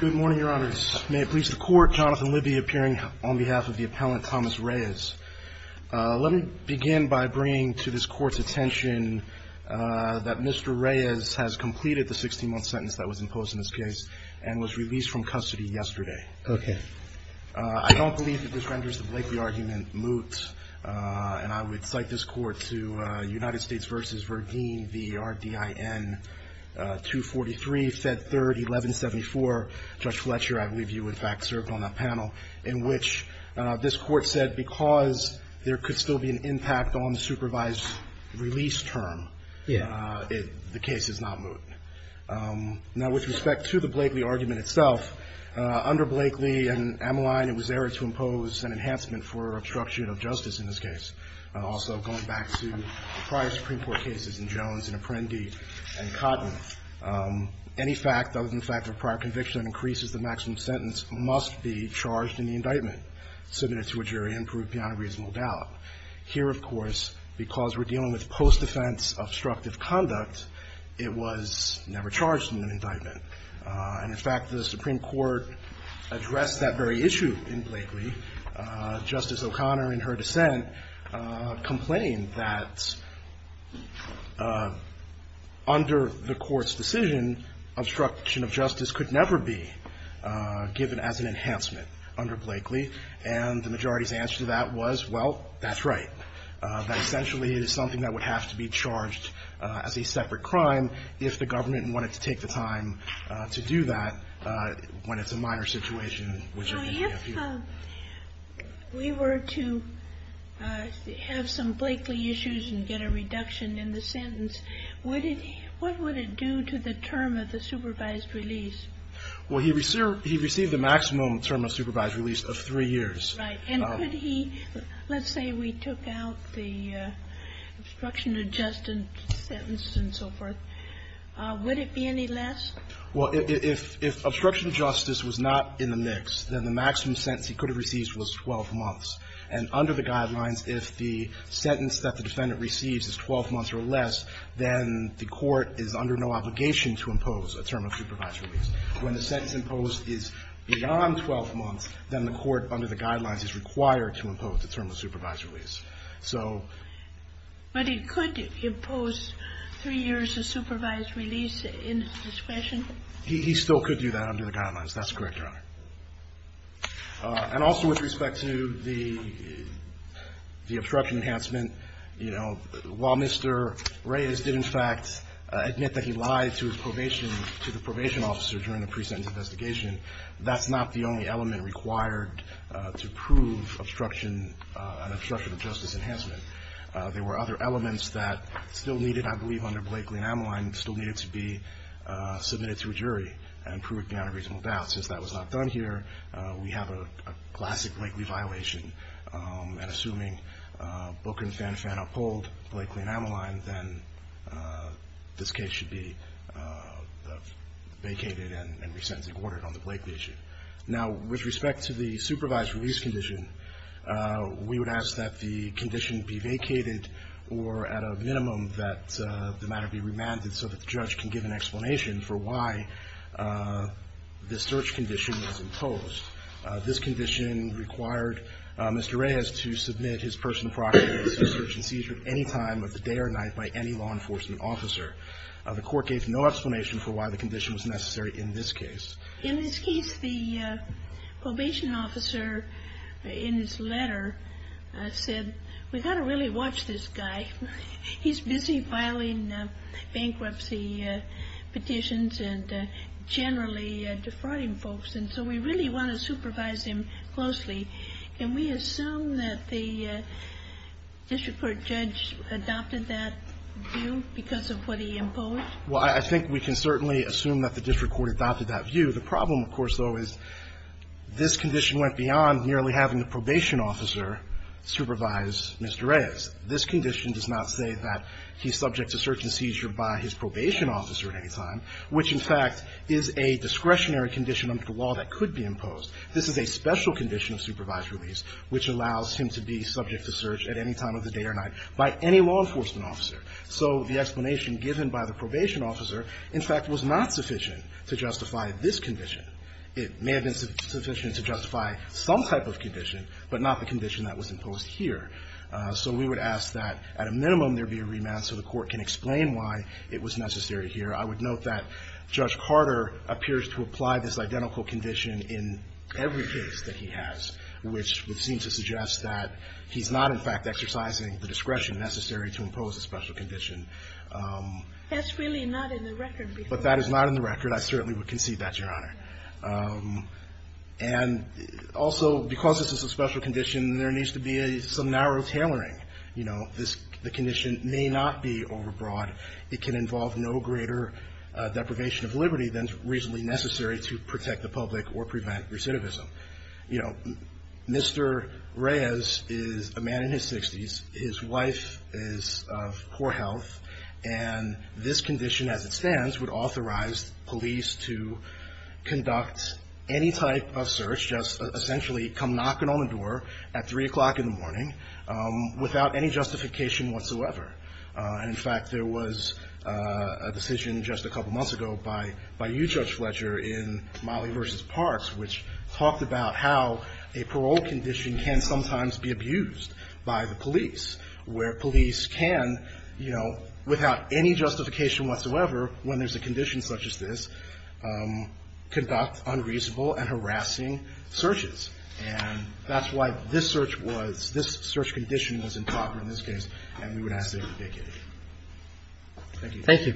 Good morning, your honors. May it please the court, Jonathan Libby appearing on behalf of the appellant, Thomas Reyes. Let me begin by bringing to this court's attention that Mr. Reyes has completed the 16-month sentence that was imposed in this case and was released from custody yesterday. I don't believe that this renders the Blakely argument moot, and I would cite this court to United States v. Verdeen, the RDIN 243, Fed 3rd, 1174. Judge Fletcher, I believe you, in fact, served on that panel, in which this court said because there could still be an impact on the supervised release term, the case is not moot. Now, with respect to the Blakely argument itself, under Blakely and Ameline, it was not moot. Also, going back to the prior Supreme Court cases in Jones and Apprendi and Cotton, any fact other than the fact that a prior conviction increases the maximum sentence must be charged in the indictment, submitted to a jury and proved beyond a reasonable doubt. Here, of course, because we're dealing with post-defense obstructive conduct, it was never charged in an indictment. And in fact, the Supreme Court addressed that very issue in Blakely. Justice O'Connor, in her dissent, complained that under the Court's decision, obstruction of justice could never be given as an enhancement under Blakely, and the majority's answer to that was, well, that's right. That essentially it is something that would have to be charged as a separate crime if the government wanted to take the time to do that when it's a minor situation, which, again, we have here. We were to have some Blakely issues and get a reduction in the sentence. What would it do to the term of the supervised release? Well, he received the maximum term of supervised release of three years. Right. And could he – let's say we took out the obstruction of justice sentence and so forth. Would it be any less? Well, if obstruction of justice was not in the mix, then the maximum sentence he could have received was 12 months. And under the guidelines, if the sentence that the defendant receives is 12 months or less, then the Court is under no obligation to impose a term of supervised release. When the sentence imposed is beyond 12 months, then the Court, under the guidelines, is required to impose a term of supervised release. But he could impose three years of supervised release in his discretion? He still could do that under the guidelines. That's correct, Your Honor. And also with respect to the obstruction enhancement, you know, while Mr. Reyes did, in fact, admit that he lied to his probation – to the probation officer during the pre-sentence investigation, that's not the only element required to prove obstruction – obstruction of justice enhancement. There were other elements that still needed, I believe, under Blakeley and Ameline, still needed to be submitted to a jury and proved beyond a reasonable doubt. Since that was not done here, we have a classic Blakeley violation. And assuming Booker and Fanfan uphold Blakeley and Ameline, then this case should be vacated and re-sentencing ordered on the Blakeley issue. Now, with respect to the we would ask that the condition be vacated or at a minimum that the matter be remanded so that the judge can give an explanation for why the search condition was imposed. This condition required Mr. Reyes to submit his personal proxies for search and seizure at any time of the day or night by any law enforcement officer. The Court gave no explanation for why the condition was necessary in this case. In this case, the probation officer in his letter said, we've got to really watch this guy. He's busy filing bankruptcy petitions and generally defrauding folks. And so we really want to supervise him closely. Can we assume that the district court judge adopted that view because of what he imposed? Well, I think we can certainly assume that the district court adopted that view. The problem, of course, though, is this condition went beyond merely having the probation officer supervise Mr. Reyes. This condition does not say that he's subject to search and seizure by his probation officer at any time, which in fact is a discretionary condition under the law that could be imposed. This is a special condition of supervised release which allows him to be subject to search at any time of the day or night by any law enforcement officer. So the explanation given by the probation officer, in fact, was not sufficient to justify this condition. It may have been sufficient to justify some type of condition, but not the condition that was imposed here. So we would ask that at a minimum there be a remand so the court can explain why it was necessary here. I would note that Judge Carter appears to apply this identical condition in every case that he has, which would seem to suggest that he's not, in fact, exercising the discretion necessary to impose a special condition. That's really not in the record. But that is not in the record. I certainly would concede that, Your Honor. And also, because this is a special condition, there needs to be some narrow tailoring. You know, the condition may not be overbroad. It can involve no greater deprivation of liberty than is reasonably necessary to protect the public or prevent recidivism. You know, Mr. Reyes is a man in his 60s. His wife is of poor health, and this condition as it stands would authorize police to conduct any type of search, just essentially come knocking on the door at 3 o'clock in the morning without any justification whatsoever. In fact, there was a decision just a couple months ago by you, Judge Fletcher, in Mollie v. Parks, which talked about how a parole condition can sometimes be abused by the police, where police can, you know, without any justification whatsoever, when there's a condition such as this, conduct unreasonable and harassing searches. And that's why this search was, this search condition was improper in this case, and we would ask that you vacate it. Thank you. Thank you.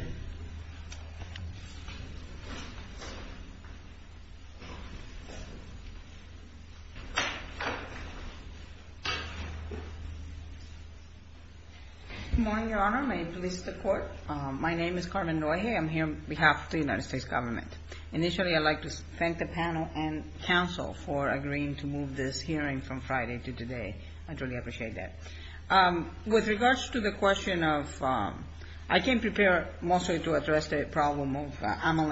Good morning, Your Honor. May it please the Court. My name is Carmen Noeje. I'm here on behalf of the United States Government. Initially, I'd like to thank the panel and counsel for agreeing to move this hearing from Friday to today. I truly appreciate that. With regards to the question of, I came prepared mostly to address the question of, you know, the problem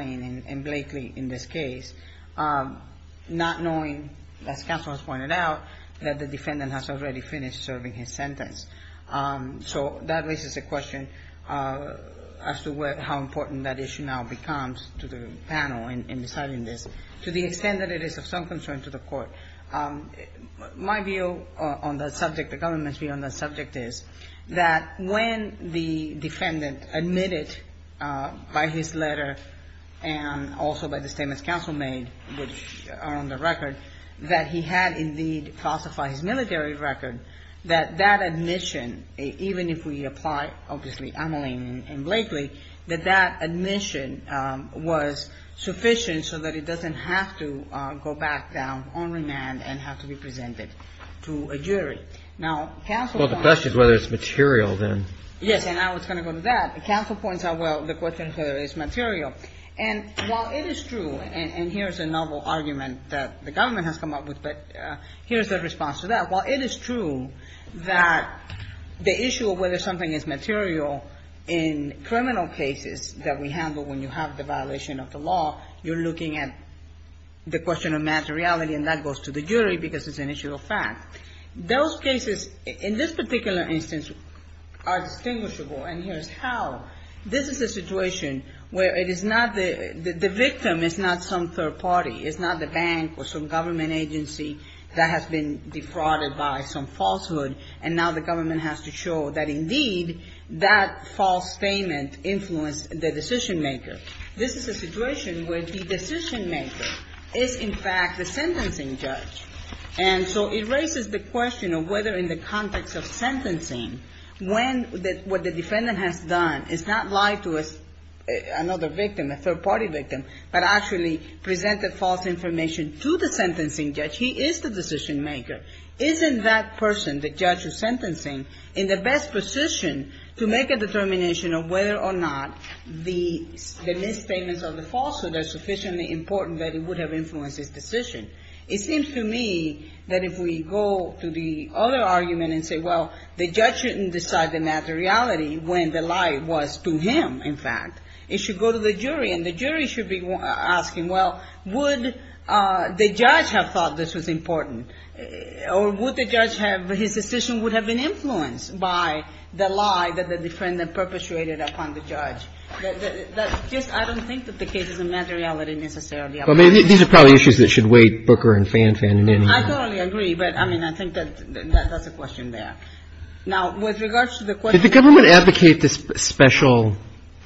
of Ameline and Blakely in this case, not knowing, as counsel has pointed out, that the defendant has already finished serving his sentence. So that raises a question as to how important that issue now becomes to the panel in deciding this, to the extent that it is of some concern to the Court. My view on that subject, the government's view on that subject is that when the evidence was presented by his letter and also by the statements counsel made, which are on the record, that he had indeed falsified his military record, that that admission, even if we apply, obviously, Ameline and Blakely, that that admission was sufficient so that it doesn't have to go back down on remand and have to be presented to a jury. Now, counsel points out... Well, the question is whether it's material then. Yes, and I was going to go to that. Counsel points out, well, the question is whether it's material. And while it is true, and here's a novel argument that the government has come up with, but here's their response to that. While it is true that the issue of whether something is material in criminal cases that we handle when you have the violation of the law, you're looking at the question of materiality, and that goes to the jury because it's an issue of fact. Those cases, in this particular instance, are distinguishable, and here's how. This is a situation where it is not the victim, it's not some third party, it's not the bank or some government agency that has been defrauded by some falsehood, and now the government has to show that, indeed, that false statement influenced the decision-maker. This is a situation where the decision-maker is, in fact, the sentencing judge. And so it raises the context of sentencing when what the defendant has done is not lie to another victim, a third party victim, but actually presented false information to the sentencing judge. He is the decision-maker. Isn't that person, the judge of sentencing, in the best position to make a determination of whether or not the misstatements of the falsehood are sufficiently important that it would have influenced his decision? It seems to me that if we go to the other argument and say, well, the judge shouldn't decide the matter-of-reality when the lie was to him, in fact. It should go to the jury, and the jury should be asking, well, would the judge have thought this was important? Or would the judge have, his decision would have been influenced by the lie that the defendant perpetuated upon the judge? That's just, I don't think that the cases of matter-of-reality necessarily apply. These are probably issues that should weight Booker and Fan-Fan in. I totally agree, but I think that's a question there. Did the government advocate this special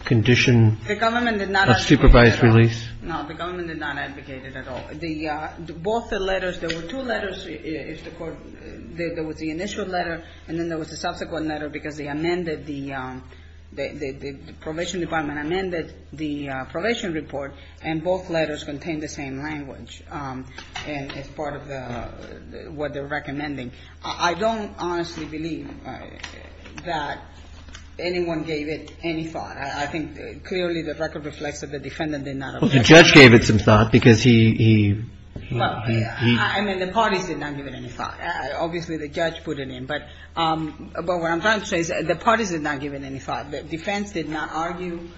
condition of supervised release? No, the government did not advocate it at all. Both the letters, there were two letters, there was the initial letter and then there was the subsequent letter because the probation department amended the probation report and both letters contained the same language as part of what they were recommending. I don't honestly believe that anyone gave it any thought. I think clearly the record reflects that the defendant did not advocate it. Well, the judge gave it some thought because he... Well, I mean, the parties did not give it any thought. Obviously, the judge put it in, but what I'm trying to say is the parties did not give it any thought. The defense did not argue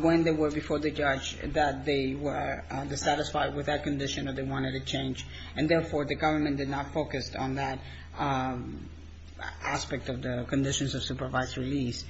when they were before the judge that they were dissatisfied with that condition or they wanted a change and therefore the government did not focus on that aspect of the conditions of supervised release.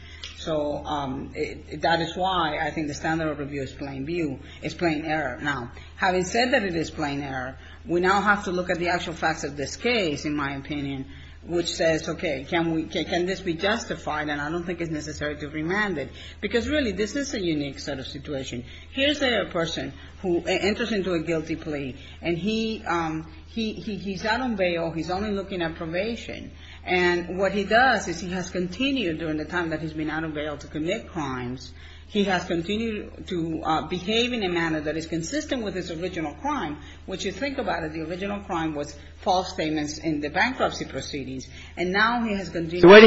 That is why I think the standard of review is plain view, is plain error. Now, having said that it is plain error, we now have to look at the actual facts of this case, in my opinion, which says, okay, can this be justified and I don't think it's necessary to remand it because really this is a unique sort of situation. Here's a person who enters into a guilty plea and he's out on bail, he's only looking at probation and what he does is he has continued during the time that he's been out on bail to commit crimes, he has continued to behave in a manner that is consistent with his original crime, which you think about it, the original crime was false statements in the bankruptcy proceedings and now he has continued. So why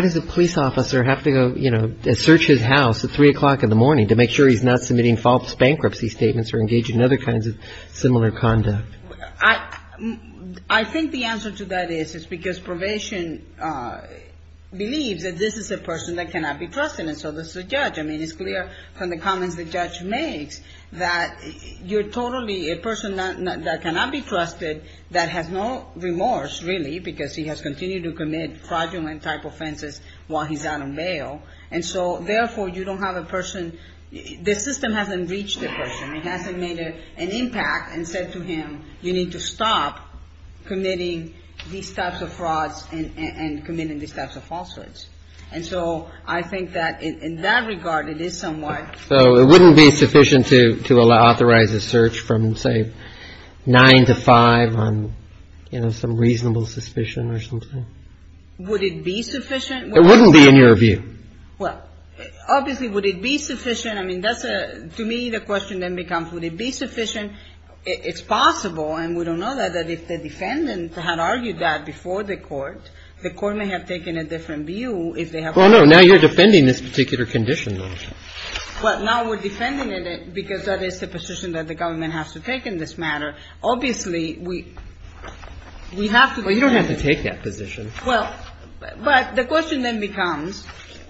does a police officer have to go search his house at 3 o'clock in the morning to make sure he's not submitting false bankruptcy statements or engaging in other kinds of similar conduct? I think the answer to that is it's because probation believes that this is a person that cannot be trusted and so does the judge. I mean, it's clear from the comments the judge makes that you're totally a person that cannot be trusted that has no remorse really because he has continued to commit fraudulent type offenses while he's out on bail and so therefore you don't have a person the system hasn't reached the person, it hasn't made an impact and said to him you need to stop committing these types of frauds and committing these types of falsehoods and so I think that in that regard it is somewhat So it wouldn't be sufficient to authorize a search from say 9 to 5 on, you know, some reasonable suspicion or something? Would it be sufficient? It wouldn't be in your view Well, obviously would it be sufficient? I mean that's a to me the question then becomes would it be sufficient? It's possible and we don't know that if the defendant had argued that before the court the court may have taken a different view if they have Well no, now you're defending this particular condition Well now we're defending it because that is the position that the government has to take in this matter. Obviously we Well you don't have to take that position. Well, but the question then becomes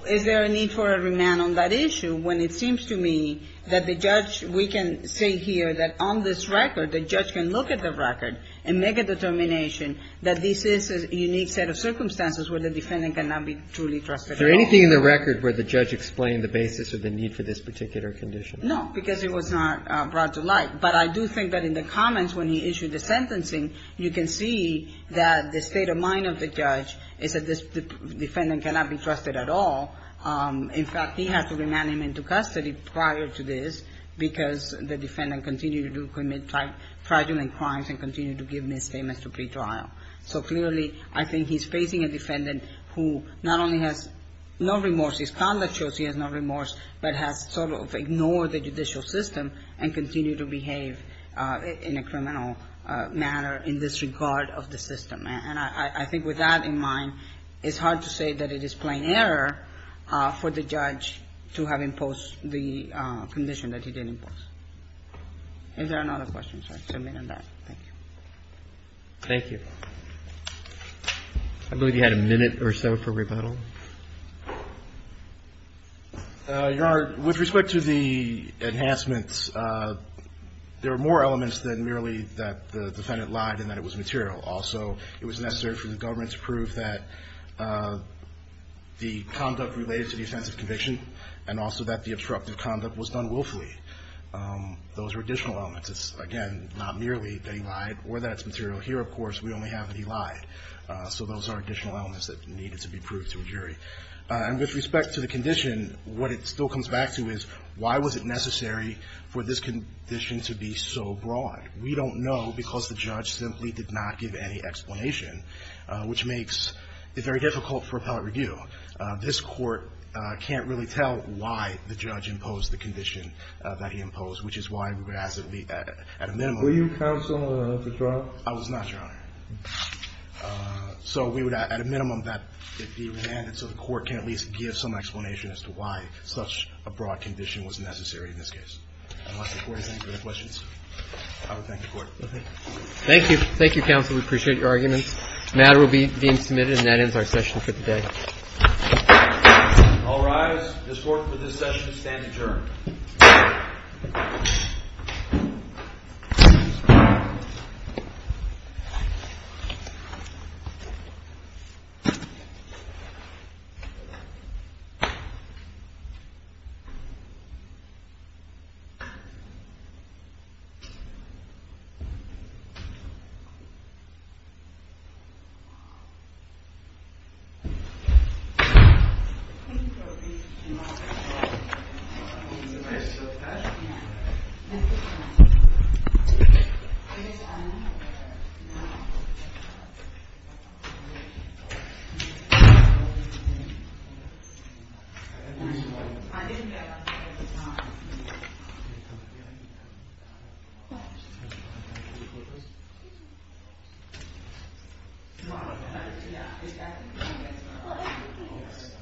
is there a need for a remand on that issue when it seems to me that the judge, we can say here that on this record the judge can look at the record and make a determination that this is a unique set of circumstances where the defendant cannot be truly trusted at all Is there anything in the record where the judge explained the basis of the need for this particular condition? No, because it was not brought to light. But I do think that in the comments when he issued the sentencing you can see that the state of mind of the judge is that this defendant cannot be trusted at all in fact he has to remand him into custody prior to this because the defendant continued to commit fraudulent crimes and continued to give misdemeanors to pretrial. So clearly I think he's facing a defendant who not only has no remorse, his conduct shows he has no remorse but has sort of ignored the judicial system and continued to behave in a criminal manner in disregard of the system. And I think with that in mind it's hard to say that it is plain error for the judge to have imposed the condition that he did impose. Is there another question? Thank you. Thank you. I believe you had a minute or so for rebuttal. Your Honor, with respect to the enhancements, there are more elements than merely that the defendant lied and that it was material. Also it was necessary for the government to prove that the conduct related to the offensive conviction and also that the obstructive conduct was done willfully. Those are additional elements. It's again not merely that he lied. So those are additional elements that needed to be proved to a jury. And with respect to the condition, what it still comes back to is why was it necessary for this condition to be so broad? We don't know because the judge simply did not give any explanation which makes it very difficult for appellate review. This court can't really tell why the judge imposed the condition that he imposed, which is why we would ask that it be at a minimum. Were you counsel to trial? I was not, Your Honor. So we would at a minimum that it be remanded so the court can at least give some explanation as to why such a broad condition was necessary in this case. Unless the court has any further questions, I would thank the court. Thank you. Thank you, counsel. We appreciate your arguments. The matter will be being submitted and that ends our session for today. All rise. This court for this session stands adjourned. Thank you. I guess I'm not. I didn't get that. No, I don't. I'm sorry. I'm sorry. Yeah. Mhm. Mm. Mhm. Yeah. mhm. Yes. Mhm.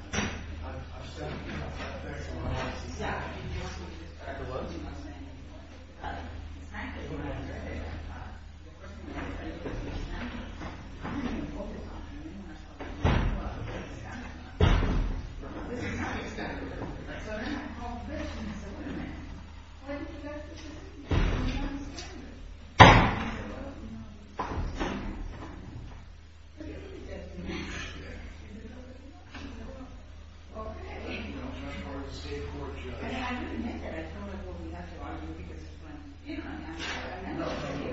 Yeah. Mhm. Yeah. Mhm. Mhm.